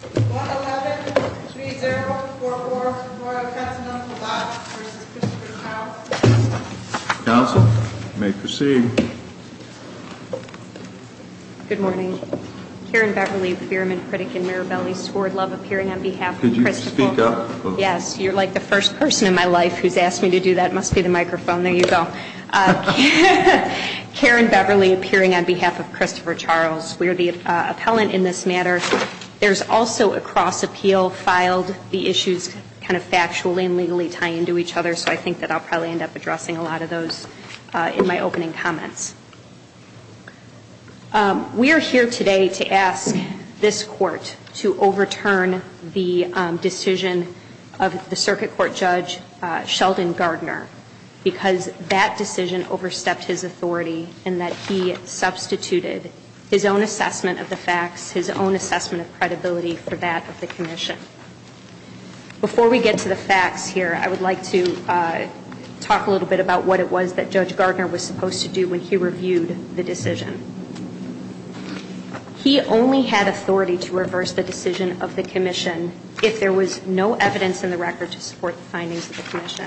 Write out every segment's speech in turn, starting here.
1-11-3-0-4-4 Royal Continental Box v. Christopher Charles Council, you may proceed. Good morning. Karen Beverly, Fireman Critic in Mirabelli, Sward Love, appearing on behalf of Christopher... Could you speak up? Yes. You're like the first person in my life who's asked me to do that. It must be the microphone. There you go. Karen Beverly, appearing on behalf of Christopher Charles. We are the appellant in this matter. There's also a cross-appeal filed. The issues kind of factually and legally tie into each other, so I think that I'll probably end up addressing a lot of those in my opening comments. We are here today to ask this Court to overturn the decision of the Circuit Court Judge Sheldon Gardner because that decision overstepped his authority in that he substituted his own assessment of the facts, his own assessment of credibility for that of the Commission. Before we get to the facts here, I would like to talk a little bit about what it was that Judge Gardner was supposed to do when he reviewed the decision. He only had authority to reverse the decision of the Commission if there was no evidence in the record to support the findings of the Commission.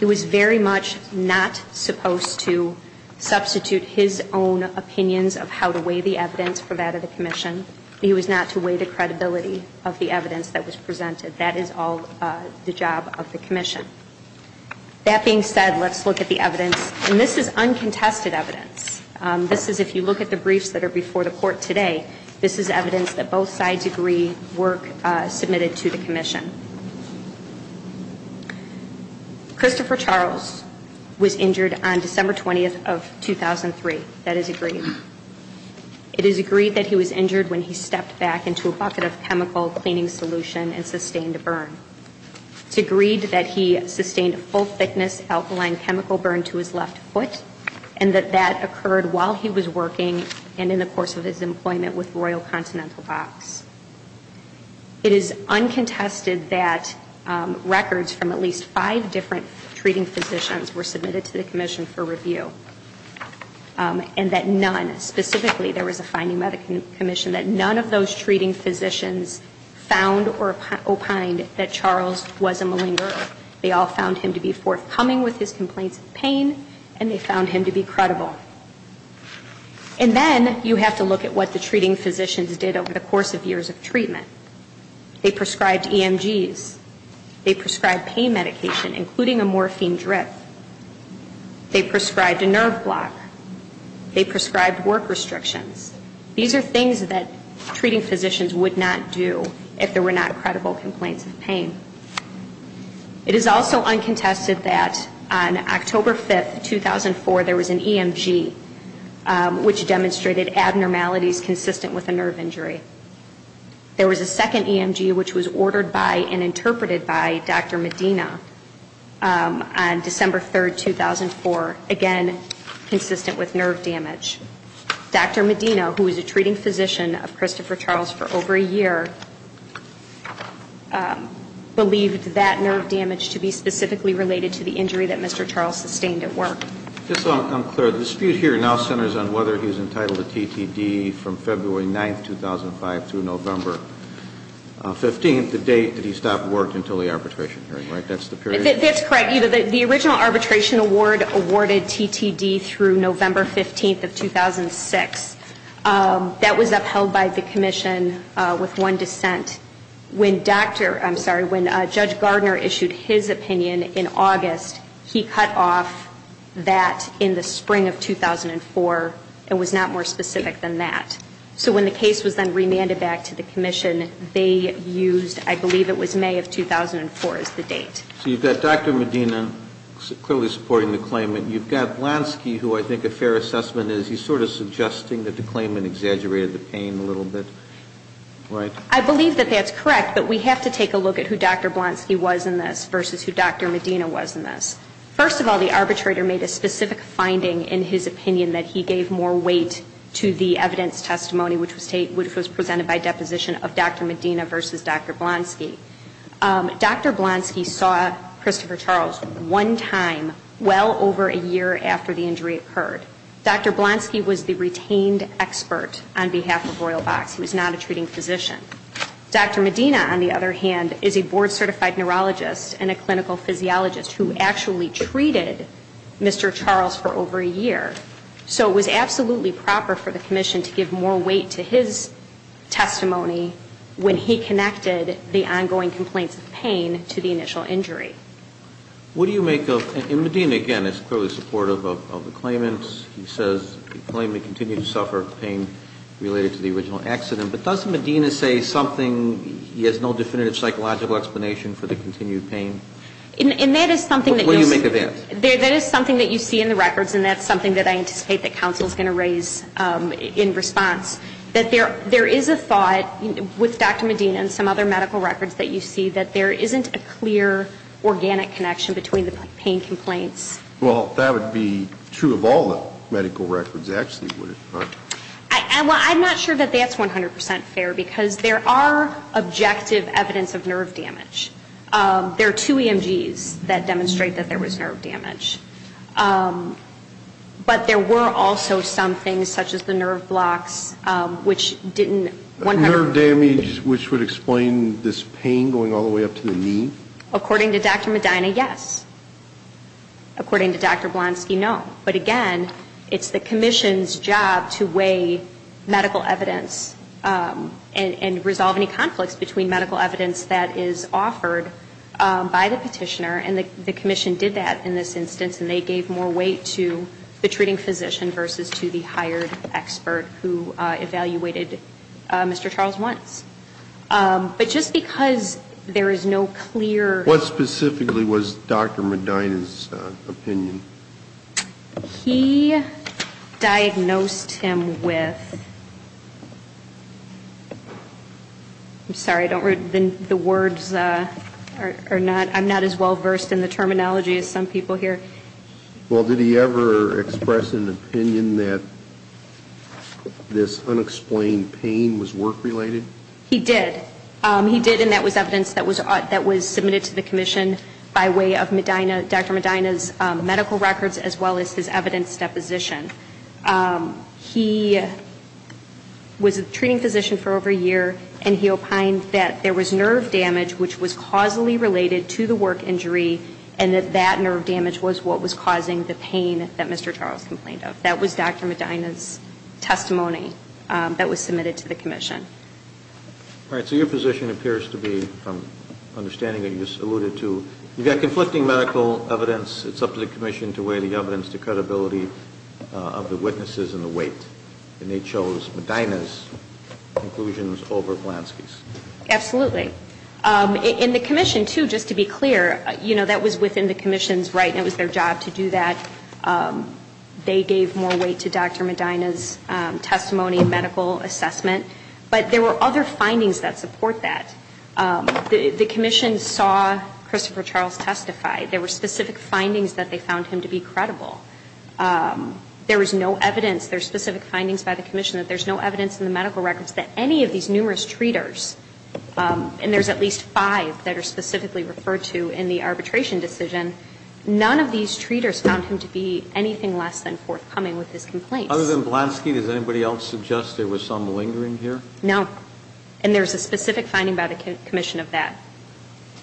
He was very much not supposed to substitute his own opinions of how to weigh the evidence for that of the Commission. He was not to weigh the credibility of the evidence that was presented. That is all the job of the Commission. That being said, let's look at the evidence. And this is uncontested evidence. This is, if you look at the briefs that are before the Court today, this is evidence that both sides agree were submitted to the Commission. Christopher Charles was injured on December 20th of 2003. That is agreed. It is agreed that he was injured when he stepped back into a bucket of chemical cleaning solution and sustained a burn. It's agreed that he sustained a full-thickness alkaline chemical burn to his left foot and that that occurred while he was working and in the course of his employment with Royal Continental Box. It is uncontested that records from at least five different treating physicians were submitted to the Commission for review. And that none, specifically there was a finding by the Commission that none of those treating physicians found or opined that Charles was a malingerer. They all found him to be forthcoming with his complaints of pain and they found him to be credible. And then you have to look at what the treating physicians did over the course of years of treatment. They prescribed EMGs. They prescribed pain medication, including a morphine drip. They prescribed a nerve block. They prescribed work restrictions. These are things that treating physicians would not do if there were not credible complaints of pain. It is also uncontested that on October 5th, 2004, there was an EMG which demonstrated abnormalities consistent with a nerve injury. There was a second EMG which was ordered by and interpreted by Dr. Medina on December 3rd, 2004, again consistent with nerve damage. Dr. Medina, who was a treating physician of Christopher Charles for over a year, believed that nerve damage to be on whether he was entitled to TTD from February 9th, 2005 through November 15th, the date that he stopped work until the arbitration hearing, right? That's the period? That's correct. The original arbitration award awarded TTD through November 15th of 2006. That was upheld by the Commission with one dissent. When Dr. I'm sorry, when Judge Gardner issued his opinion in August, he cut off that in the spring of 2004. It was not more specific than that. So when the case was then remanded back to the Commission, they used I believe it was May of 2004 as the date. So you've got Dr. Medina clearly supporting the claimant. You've got Blansky who I think a fair assessment is he's sort of suggesting that the claimant exaggerated the pain a little bit, right? I believe that that's correct, but we have to take a look at who Dr. Blansky was in this versus who Dr. Medina was in this. First of all, the arbitrator made a specific finding in his opinion that he gave more weight to the evidence testimony which was presented by deposition of Dr. Medina versus Dr. Blansky. Dr. Blansky saw Christopher Charles one time well over a year after the injury occurred. Dr. Blansky was the retained expert on behalf of Royal Box. He was not a treating physician. Dr. Medina, on the other hand, is a board certified neurologist and a clinical physiologist who actually treated Mr. Charles for over a year. So it was absolutely proper for the Commission to give more weight to his testimony when he connected the ongoing complaints of pain to the initial injury. And Medina, again, is clearly supportive of the claimant. He says the claimant continued to suffer pain related to the original accident. But doesn't Medina say something, he has no definitive psychological explanation for the continued pain? And that is something that you see in the records and that's something that I anticipate that counsel is going to raise in response, that there is a thought with Dr. Medina and some other medical records that you see that there isn't a clear organic connection between the pain complaints. Well, that would be true of all the medical records, actually, would it not? Well, I'm not sure that that's 100 percent fair because there are objective evidence of nerve damage. There are two EMGs that demonstrate that there was nerve damage. But there were also some things, such as the nerve blocks, which didn't Nerve damage, which would explain this pain going all the way up to the knee? According to Dr. Medina, yes. According to Dr. Blonsky, no. But again, it's the Commission's job to weigh medical evidence and resolve any conflicts between medical evidence that is offered by the petitioner, and the Commission did that in this instance, and they gave more weight to the treating physician versus to the hired expert who evaluated Mr. Charles once. But just because there is no clear What specifically was Dr. Medina's opinion? He diagnosed him with I'm sorry, the words are not I'm not as well versed in the terminology as some people here. Well, did he ever express an opinion that this unexplained pain was work-related? He did. He did, and that was evidence that was submitted to the Commission by way of Dr. Medina's medical records, as well as his evidence deposition. He was a treating physician for over a year, and he opined that there was nerve damage which was causally related to the work injury, and that that nerve damage was what was causing the pain that Mr. Charles complained of. That was Dr. Medina's testimony that was submitted to the Commission. All right. So your position appears to be, from understanding that you just alluded to, you've got conflicting medical evidence. It's up to the Commission to weigh the evidence to credibility of the witnesses and the weight. And they chose Medina's conclusions over Blansky's. Absolutely. And the Commission, too, just to be clear, you know, that was within the Commission's right, and it was their job to do that. They gave more weight to Dr. Medina's testimony and medical assessment. But there were other findings that support that. The Commission saw Christopher Charles testify. There were specific findings that they found him to be credible. There was no evidence, there's specific findings by the Commission that there's no evidence in the medical records that any of these numerous treaters, and there's at least five that are specifically referred to in the arbitration decision, none of these treaters found him to be anything less than forthcoming with his complaints. Other than Blansky, does anybody else suggest there was some malingering here? No. And there's a specific finding by the Commission of that.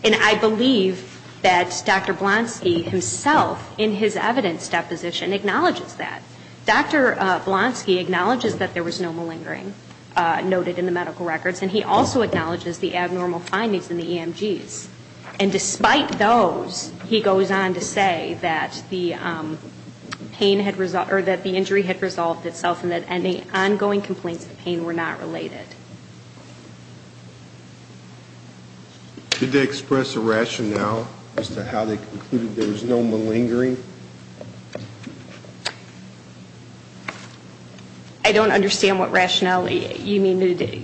And I believe that Dr. Blansky himself, in his evidence deposition, acknowledges that. Dr. Blansky acknowledges that there was no malingering noted in the medical records, and he also acknowledges the abnormal findings in the EMGs. And despite those, he goes on to say that the pain had resolved, or that the injury had resolved itself and that any ongoing complaints of pain were not related. Did they express a rationale as to how they concluded there was no malingering? I don't understand what rationale you mean to do.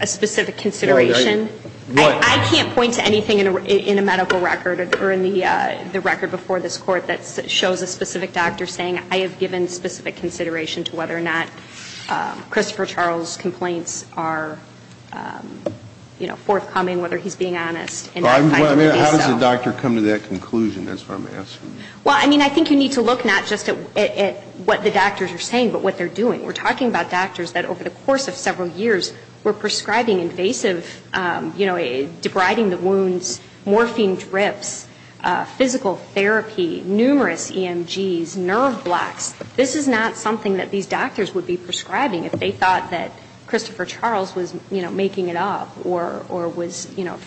A specific consideration? I can't point to anything in a medical record or in the record before this Court that shows a specific doctor saying, I have given specific consideration to whether or not Christopher Charles' complaints are forthcoming, whether he's being honest. How does the doctor come to that conclusion? That's what I'm asking. Well, I mean, I think you need to look not just at what the doctors are saying, but what they're doing. We're talking about doctors that over the course of several years were prescribing invasive, you know, debriding the wounds, morphine drips, physical therapy, numerous EMGs, nerve blocks. This is not something that these doctors would be prescribing if they thought that Christopher Charles was, you know, making it up or was, you know,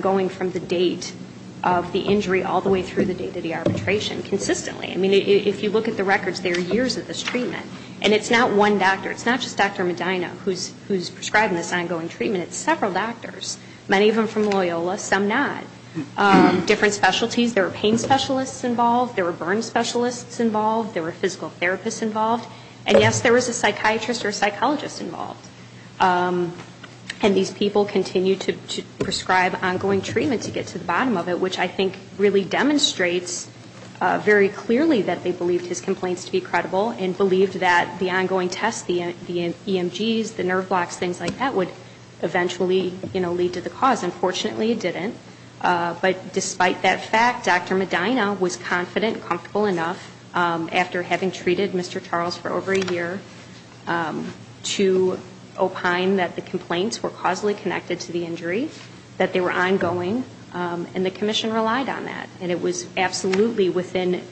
going from the date of the injury all the way through the date of the arbitration consistently. I mean, if you look at the records, there are years of this treatment. And it's not one doctor. It's not just Dr. Medina who's prescribing this ongoing treatment. It's several doctors. Many of them from Loyola, some not. Different specialties. There were pain specialists involved. There were burn specialists involved. There were physical therapists involved. And yes, there was a psychiatrist or a psychologist involved. And these people continued to prescribe ongoing treatment to get to the bottom of it, which I think really demonstrates very clearly that they believed his complaints to be credible and believed that the ongoing tests, the EMGs, the nerve blocks, things like that, would eventually, you know, lead to the cause. Unfortunately, it didn't. But despite that fact, Dr. Medina was confident and comfortable enough, after having treated Mr. Charles for over a year, to opine that the complaints were causally connected to the injury, that they were ongoing, and the commission relied on that. And it was absolutely within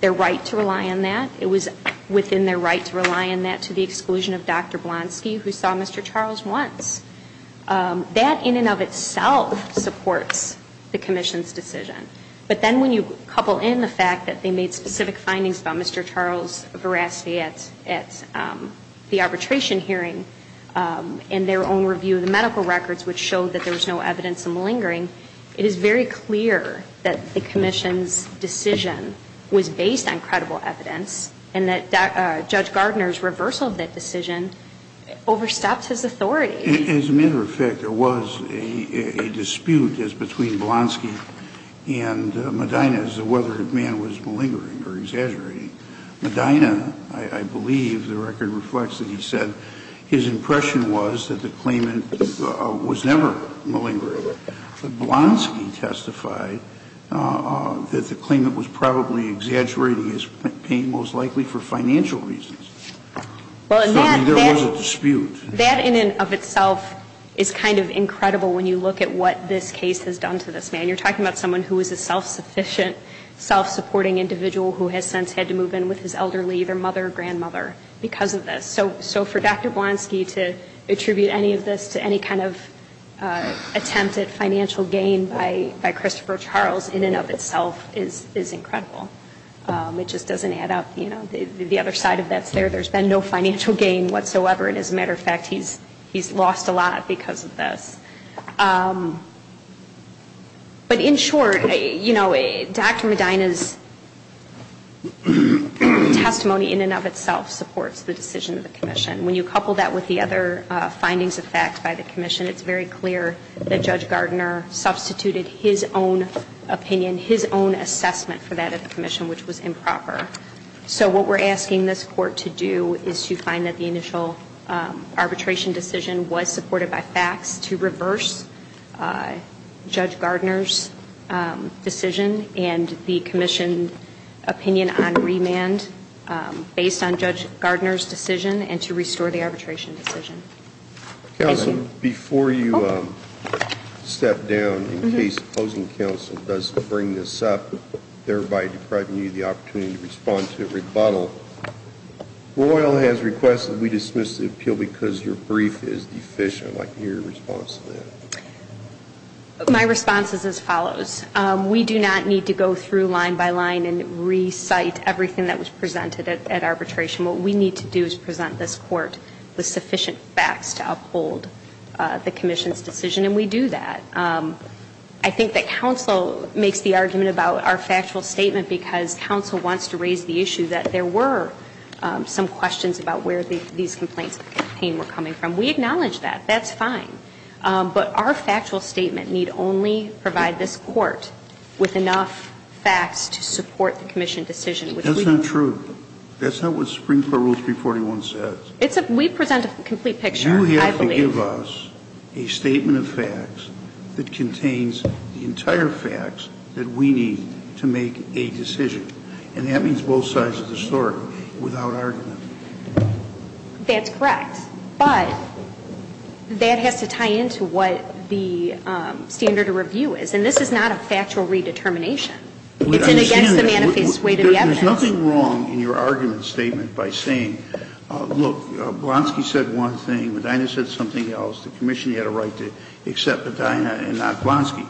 their right to rely on that. It was within their right to rely on that to the exclusion of Dr. Blonsky, who saw Mr. Charles once. That in and of itself supports the commission's decision. But then when you couple in the fact that they made specific findings about Mr. Charles Verasti at the arbitration hearing, and their own review of the medical records, which showed that there was no evidence of malingering, it is very clear that the commission's decision was based on credible evidence, and that Judge Gardner's reversal of that decision overstepped his authority. As a matter of fact, there was a dispute between Blonsky and Medina as to whether the man was malingering or exaggerating. Medina, I believe, the record reflects that he said, his impression was that the claimant was never malingering. But Blonsky testified that the claimant was probably exaggerating his pain, most likely for financial reasons. I mean, there was a dispute. That in and of itself is kind of incredible when you look at what this case has done to this man. You're talking about someone who is a self-sufficient, self-supporting individual who has since had to move in with his elderly, either mother or grandmother, because of this. So for Dr. Blonsky to attribute any of this to any kind of attempt at financial gain by Christopher Charles in and of itself is incredible. It just doesn't add up. The other side of that is there's been no financial gain whatsoever, and as a matter of fact, he's lost a lot because of this. But in short, Dr. Medina's testimony in and of itself supports the decision of the commission. When you couple that with the other findings of fact by the commission, it's very clear that Judge Gardner substituted his own opinion, his own assessment for that of the commission, which was improper. So what we're asking this Court to do is to find that the initial arbitration decision was supported by facts to reverse Judge Gardner's decision, and the commission opinion on remand based on Judge Gardner's decision, and to restore the arbitration decision. Counsel, before you step down, in case opposing counsel does bring this up, thereby depriving you of the opportunity to respond to a rebuttal, Royal has requested that we dismiss the appeal because your brief is deficient. I'd like your response to that. My response is as follows. We do not need to go through line by line and recite everything that was presented at arbitration. What we need to do is present this Court with sufficient facts to uphold the commission's decision, and we do that. I think that counsel makes the argument about our factual statement, because counsel wants to raise the issue that there were some questions about where these complaints of the campaign were coming from. We acknowledge that. That's fine. But our factual statement need only provide this Court with enough facts to support the commission decision. That's not true. That's not what Supreme Court Rule 341 says. We present a complete picture, I believe. But that doesn't give us a statement of facts that contains the entire facts that we need to make a decision. And that means both sides of the story, without argument. That's correct. But that has to tie into what the standard of review is. And this is not a factual redetermination. It's an against the manifest way to the evidence. There's nothing wrong in your argument statement by saying, look, Blonsky said one thing, Medina said something else, the commission had a right to accept Medina and not Blonsky.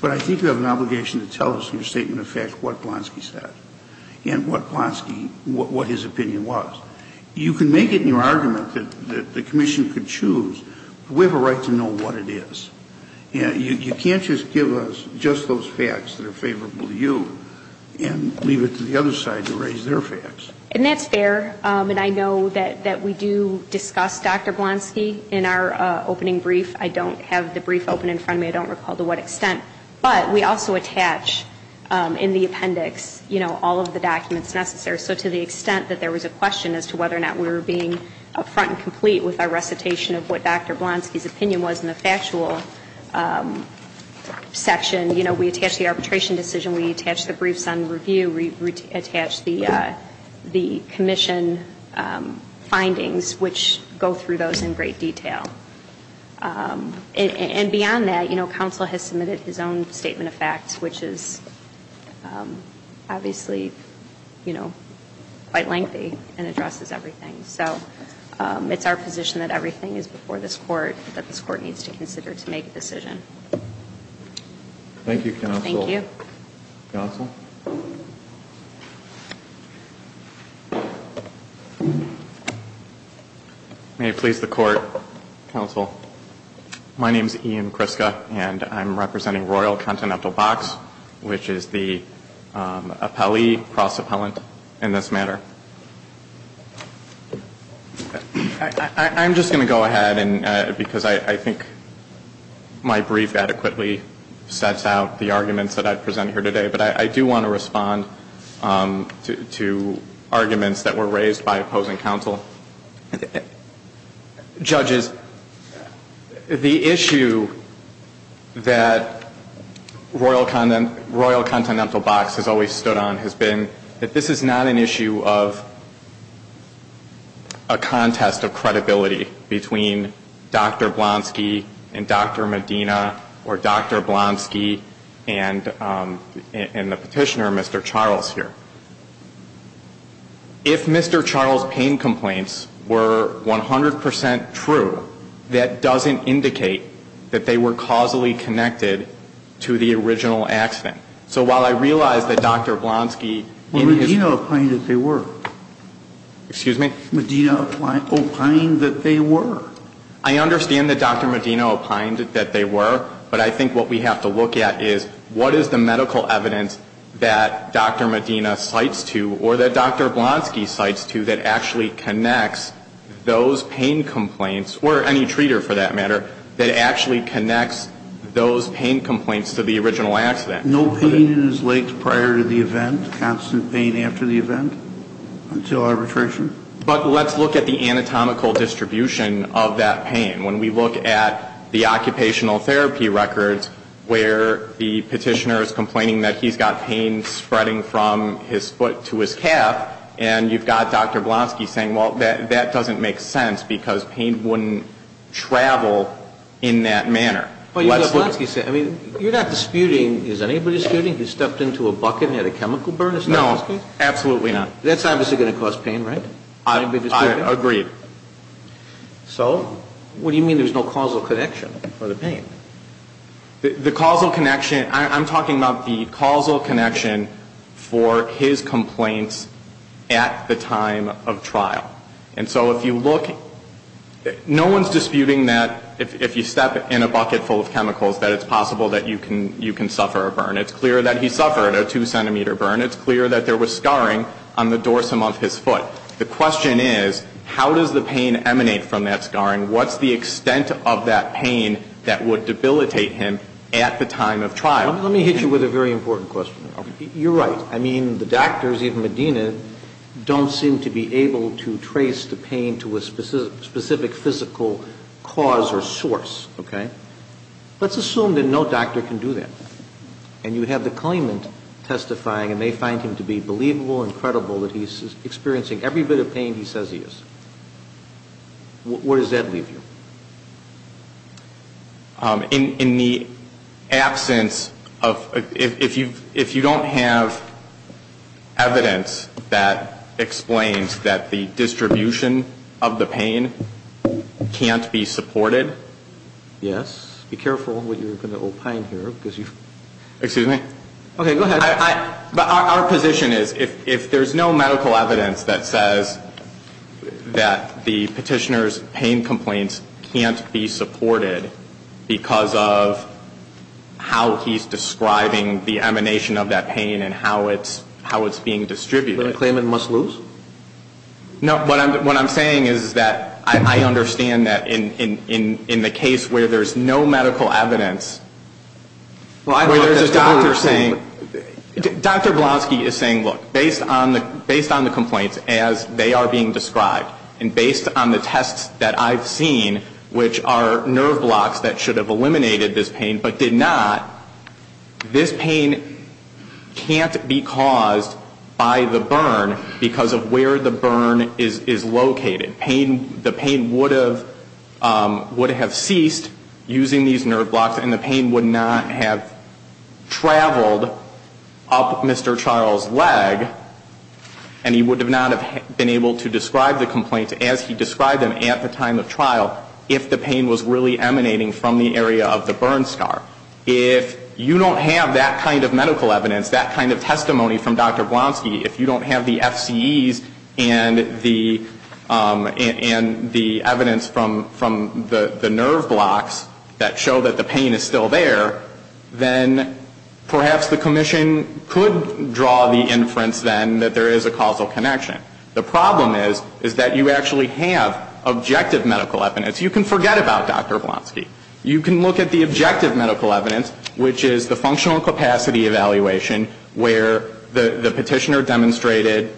But I think you have an obligation to tell us in your statement of facts what Blonsky said and what Blonsky, what his opinion was. You can make it in your argument that the commission could choose, but we have a right to know what it is. You can't just give us just those facts that are favorable to you and leave it to the other side to raise their facts. And that's fair. And I know that we do discuss Dr. Blonsky in our opening brief. I don't have the brief open in front of me. I don't recall to what extent. But we also attach in the appendix, you know, all of the documents necessary. So to the extent that there was a question as to whether or not we were being up front and complete with our recitation of what Dr. Blonsky's opinion was in the factual section, you know, we attach the arbitration decision, we attach the briefs on review, we attach the commission findings, which go through those in great detail. And beyond that, you know, counsel has submitted his own statement of facts, which is obviously, you know, quite lengthy and addresses everything. So it's our position that everything is before this court, that this court needs to consider to make a decision. Thank you, counsel. Thank you. Counsel. May it please the court, counsel. My name is Ian Kriska, and I'm representing Royal Continental Box, which is the appellee cross-appellant in this matter. I'm just going to go ahead, because I think my brief adequately sets out the arguments that I've presented here today. But I do want to respond to arguments that were raised by opposing counsel. Judges, the issue that Royal Continental Box has always stood on has been that this is not an issue of a contest of credibility between Dr. Blonsky and Dr. Medina or Dr. Blonsky and the petitioner, Mr. Charles, here. If Mr. Charles' pain complaints were 100 percent true, that doesn't indicate that they were causally connected to the original accident. So while I realize that Dr. Blonsky — Well, Medina opined that they were. Excuse me? Medina opined that they were. I understand that Dr. Medina opined that they were. But I think what we have to look at is what is the medical evidence that Dr. Medina cites to, or that Dr. Blonsky cites to, that actually connects those pain complaints, or any treater for that matter, that actually connects those pain complaints to the original accident? No pain is linked prior to the event, constant pain after the event, until arbitration. But let's look at the anatomical distribution of that pain. When we look at the occupational therapy records where the petitioner is complaining that he's got pain spreading from his foot to his calf, and you've got Dr. Blonsky saying, well, that doesn't make sense because pain wouldn't travel in that manner. Well, you've got Blonsky saying — I mean, you're not disputing — is anybody disputing he stepped into a bucket and had a chemical burn? No, absolutely not. That's obviously going to cause pain, right? I agree. So what do you mean there's no causal connection for the pain? The causal connection — I'm talking about the causal connection for his complaints at the time of trial. And so if you look — no one's disputing that if you step in a bucket full of chemicals, that it's possible that you can suffer a burn. It's clear that he suffered a 2-centimeter burn. It's clear that there was scarring on the dorsum of his foot. The question is, how does the pain emanate from that scarring? What's the extent of that pain that would debilitate him at the time of trial? Let me hit you with a very important question. You're right. I mean, the doctors, even Medina, don't seem to be able to trace the pain to a specific physical cause or source, okay? Let's assume that no doctor can do that. And you have the claimant testifying, and they find him to be believable and credible that he's experiencing every bit of pain he says he is. Where does that leave you? In the absence of — if you don't have evidence that explains that the distribution of the pain can't be supported. Yes. Be careful what you're going to opine here, because you've — Excuse me? Okay, go ahead. But our position is, if there's no medical evidence that says that the petitioner's pain complaints can't be supported because of how he's describing the emanation of that pain and how it's being distributed — The claimant must lose? No. What I'm saying is that I understand that in the case where there's no medical evidence, where there's a doctor saying — Well, I thought that's what we were saying. Dr. Blaski is saying, look, based on the complaints as they are being described, and based on the tests that I've seen, which are nerve blocks that should have eliminated this pain but did not, this pain can't be caused by the burn because of where the burn is located. The pain would have ceased using these nerve blocks, and the pain would not have traveled up Mr. Charles' leg, and he would not have been able to describe the complaints as he described them at the time of trial if the pain was really emanating from the area of the burn scar. If you don't have that kind of medical evidence, that kind of testimony from Dr. Blaski, if you don't have the FCEs and the evidence from the nerve blocks that show that the pain is still there, then perhaps the commission could draw the inference then that there is a causal connection. The problem is, is that you actually have objective medical evidence. You can forget about Dr. Blaski. You can look at the objective medical evidence, which is the functional capacity evaluation where the petitioner demonstrated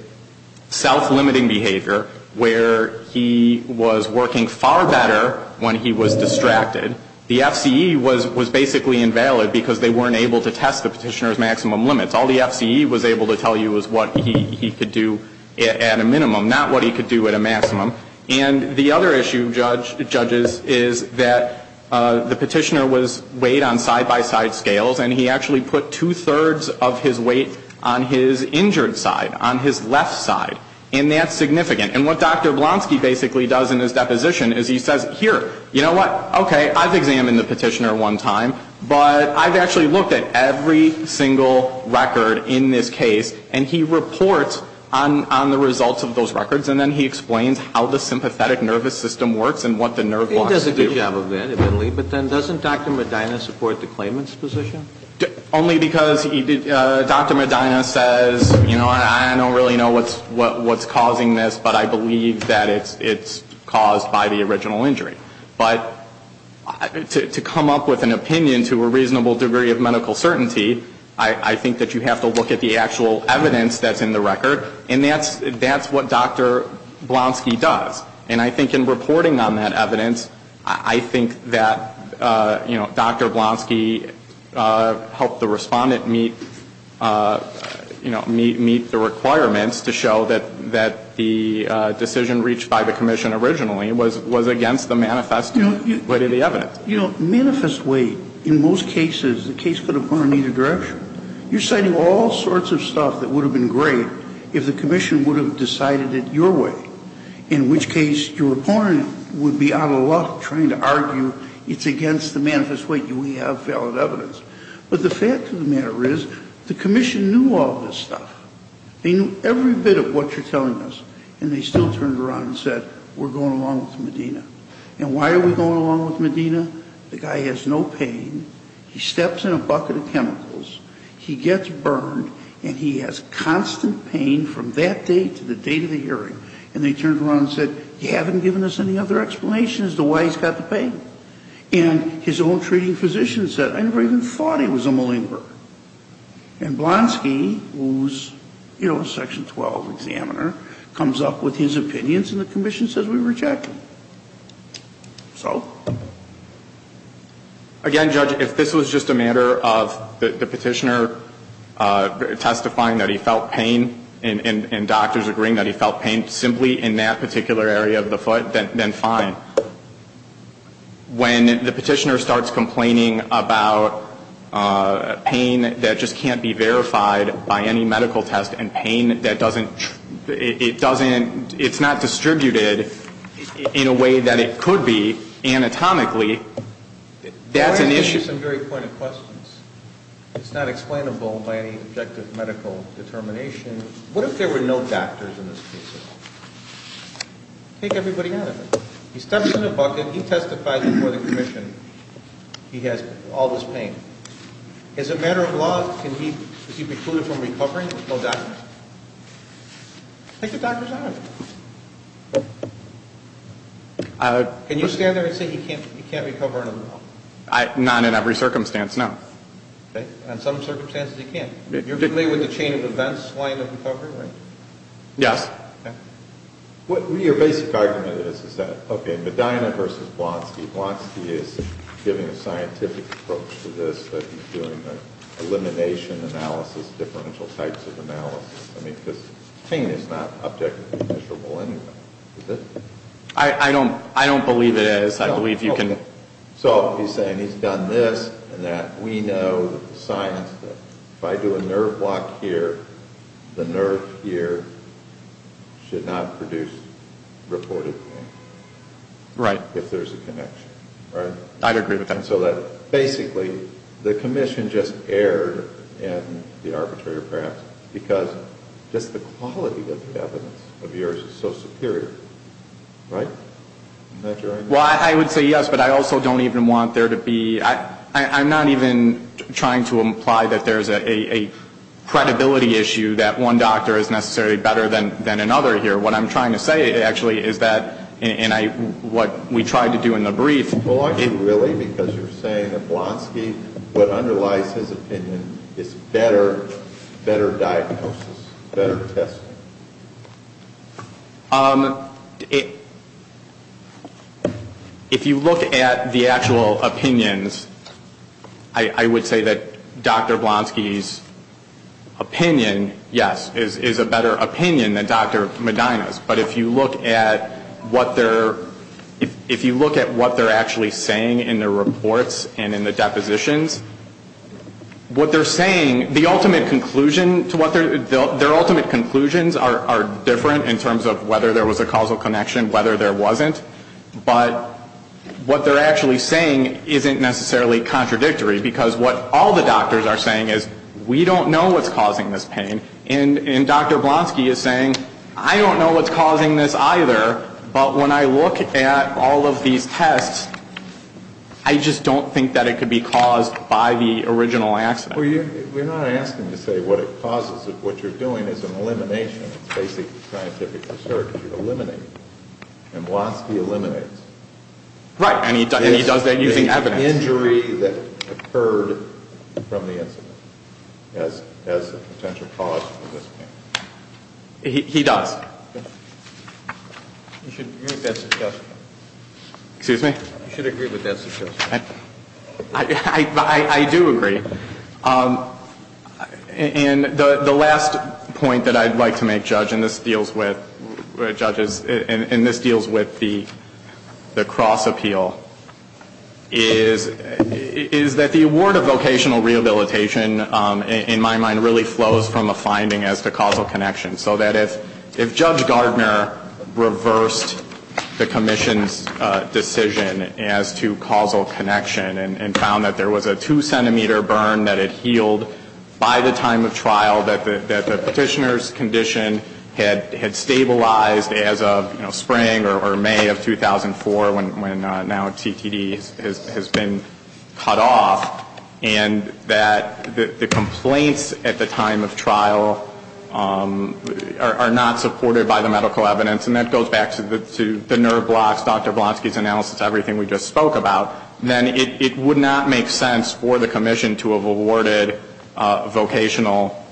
self-limiting behavior, where he was working far better when he was distracted. The FCE was basically invalid because they weren't able to test the petitioner's maximum limits. All the FCE was able to tell you was what he could do at a minimum, not what he could do at a maximum. And the other issue, judges, is that the petitioner was weighed on side-by-side scales, and he actually put two-thirds of his weight on his injured side, on his left side, and that's significant. And what Dr. Blaski basically does in his deposition is he says, here, you know what? Okay, I've examined the petitioner one time, but I've actually looked at every single record in this case, and he reports on the results of those records, and then he explains how the sympathetic nervous system works and what the nerve blocks do. He does a good job of that, admittedly, but then doesn't Dr. Medina support the claimant's position? Only because Dr. Medina says, you know what? I don't really know what's causing this, but I believe that it's caused by the original injury. But to come up with an opinion to a reasonable degree of medical certainty, I think that you have to look at the actual evidence that's in the record, and that's what Dr. Blaski does. And I think in reporting on that evidence, I think that, you know, Dr. Blaski helped the respondent meet, you know, meet the requirements to show that the decision reached by the commission originally was against the manifest way to the evidence. You know, manifest way, in most cases, the case could have gone in either direction. You're citing all sorts of stuff that would have been great if the commission would have decided it your way, in which case your opponent would be out of luck trying to argue it's against the manifest way. We have valid evidence. But the fact of the matter is the commission knew all this stuff. They knew every bit of what you're telling us, and they still turned around and said, we're going along with Medina. And why are we going along with Medina? The guy has no pain. He steps in a bucket of chemicals. He gets burned, and he has constant pain from that day to the date of the hearing. And they turned around and said, you haven't given us any other explanation as to why he's got the pain. And his own treating physician said, I never even thought he was a malinger. And Blaski, who's, you know, a section 12 examiner, comes up with his opinions, and the commission says we reject them. So? Again, Judge, if this was just a matter of the petitioner testifying that he felt pain and doctors agreeing that he felt pain simply in that particular area of the foot, then fine. When the petitioner starts complaining about pain that just can't be verified by any medical test and pain that doesn't, it doesn't, it's not distributed in a way that it could be anatomically, that's an issue. Let me ask you some very pointed questions. It's not explainable by any objective medical determination. What if there were no doctors in this case? Take everybody out of it. He steps in a bucket. He testifies before the commission. He has all this pain. As a matter of law, can he be excluded from recovering if there's no doctors? Take the doctors out of it. Can you stand there and say he can't recover under the law? Not in every circumstance, no. Okay. In some circumstances he can. You're familiar with the chain of events line of recovery, right? Yes. Okay. What your basic argument is, is that, okay, Medina versus Blaski. Blaski is giving a scientific approach to this, that he's doing an elimination analysis, differential types of analysis. I mean, because pain is not objectively measurable anyway, is it? I don't believe it is. I believe you can. So he's saying he's done this and that. We know that the science, if I do a nerve block here, the nerve here should not produce reported pain. Right. If there's a connection. Right? I'd agree with that. So that basically the commission just erred in the arbitrator perhaps because just the quality of the evidence of yours is so superior. Right? Isn't that your argument? Well, I would say yes. But I also don't even want there to be, I'm not even trying to imply that there's a credibility issue that one doctor is necessarily better than another here. What I'm trying to say actually is that, and what we tried to do in the brief. Well, really, because you're saying that Blaski, what underlies his opinion is better diagnosis, better testing. If you look at the actual opinions, I would say that Dr. Blaski's opinion, yes, is a better opinion than Dr. Medina's. But if you look at what they're, if you look at what they're actually saying in their reports and in the depositions, what they're saying, the ultimate conclusion to what they're, their ultimate conclusions are different in terms of whether there was a causal connection, whether there wasn't. But what they're actually saying isn't necessarily contradictory because what all the doctors are saying is we don't know what's causing this pain. And Dr. Blaski is saying I don't know what's causing this either, but when I look at all of these tests, I just don't think that it could be caused by the original accident. We're not asking to say what it causes. What you're doing is an elimination of basic scientific research. You're eliminating. And Blaski eliminates. Right. And he does that using evidence. He does. You should agree with that suggestion. Excuse me? You should agree with that suggestion. I do agree. And the last point that I'd like to make, Judge, and this deals with, Judges, and this deals with the cross-appeal, is that the award of vocational rehabilitation, in my mind, really flows from a finding as to causal connection. So that if Judge Gardner reversed the commission's decision as to causal connection and found that there was a two-centimeter burn that had healed by the time of trial, that the petitioner's condition had stabilized as of spring or May of 2004 when now CTD has been cut off, and that the complaints at the time of trial are not supported by the medical evidence, and that goes back to the nerve blocks, Dr. Blaski's analysis, everything we just spoke about, then it would not make sense for the commission to have awarded vocational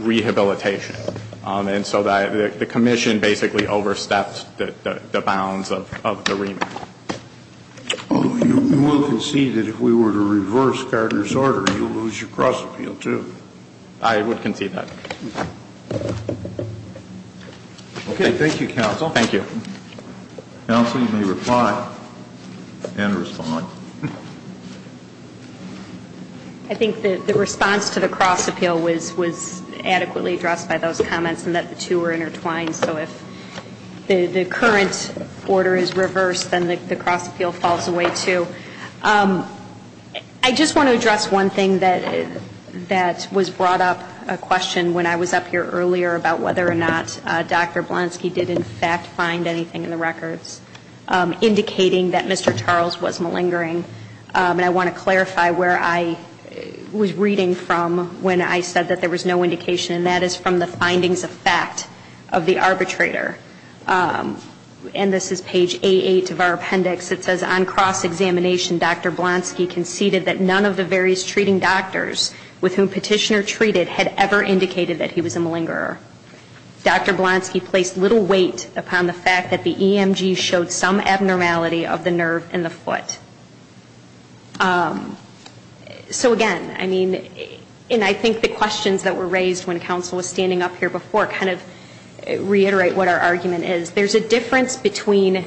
rehabilitation. And so the commission basically overstepped the bounds of the remand. You will concede that if we were to reverse Gardner's order, you would lose your cross-appeal, too? I would concede that. Okay. Thank you, Counsel. Thank you. Counsel, you may reply and respond. I think the response to the cross-appeal was adequately addressed by those comments in that the two were intertwined. So if the current order is reversed, then the cross-appeal falls away, too. I just want to address one thing that was brought up, a question when I was up here earlier about whether or not Dr. Blaski did, in fact, find anything in the records indicating that Mr. Charles was malingering. And I want to clarify where I was reading from when I said that there was no indication, and that is from the findings of fact of the arbitrator. And this is page A8 of our appendix. It says, On cross-examination, Dr. Blaski conceded that none of the various treating doctors with whom Petitioner treated had ever indicated that he was a malingerer. Dr. Blaski placed little weight upon the fact that the EMG showed some abnormality of the nerve in the foot. So again, I mean, and I think the questions that were raised when Counsel was standing up here before kind of reiterate what our argument is. There's a difference between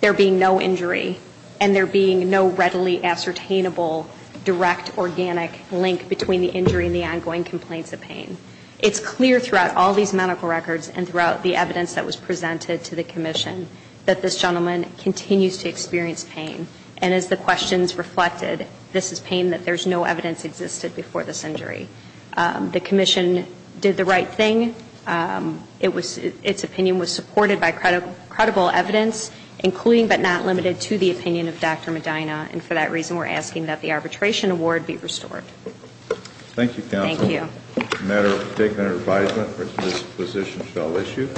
there being no injury and there being no readily ascertainable direct organic link between the injury and the ongoing complaints of pain. It's clear throughout all these medical records and throughout the evidence that was presented to the commission that this gentleman continues to experience pain. And as the questions reflected, this is pain that there's no evidence existed before this injury. The commission did the right thing. Its opinion was supported by credible evidence, including but not limited to the opinion of Dr. Medina. And for that reason, we're asking that the arbitration award be restored. Thank you, Counsel. Thank you. A matter for taking under advisement. This position shall issue.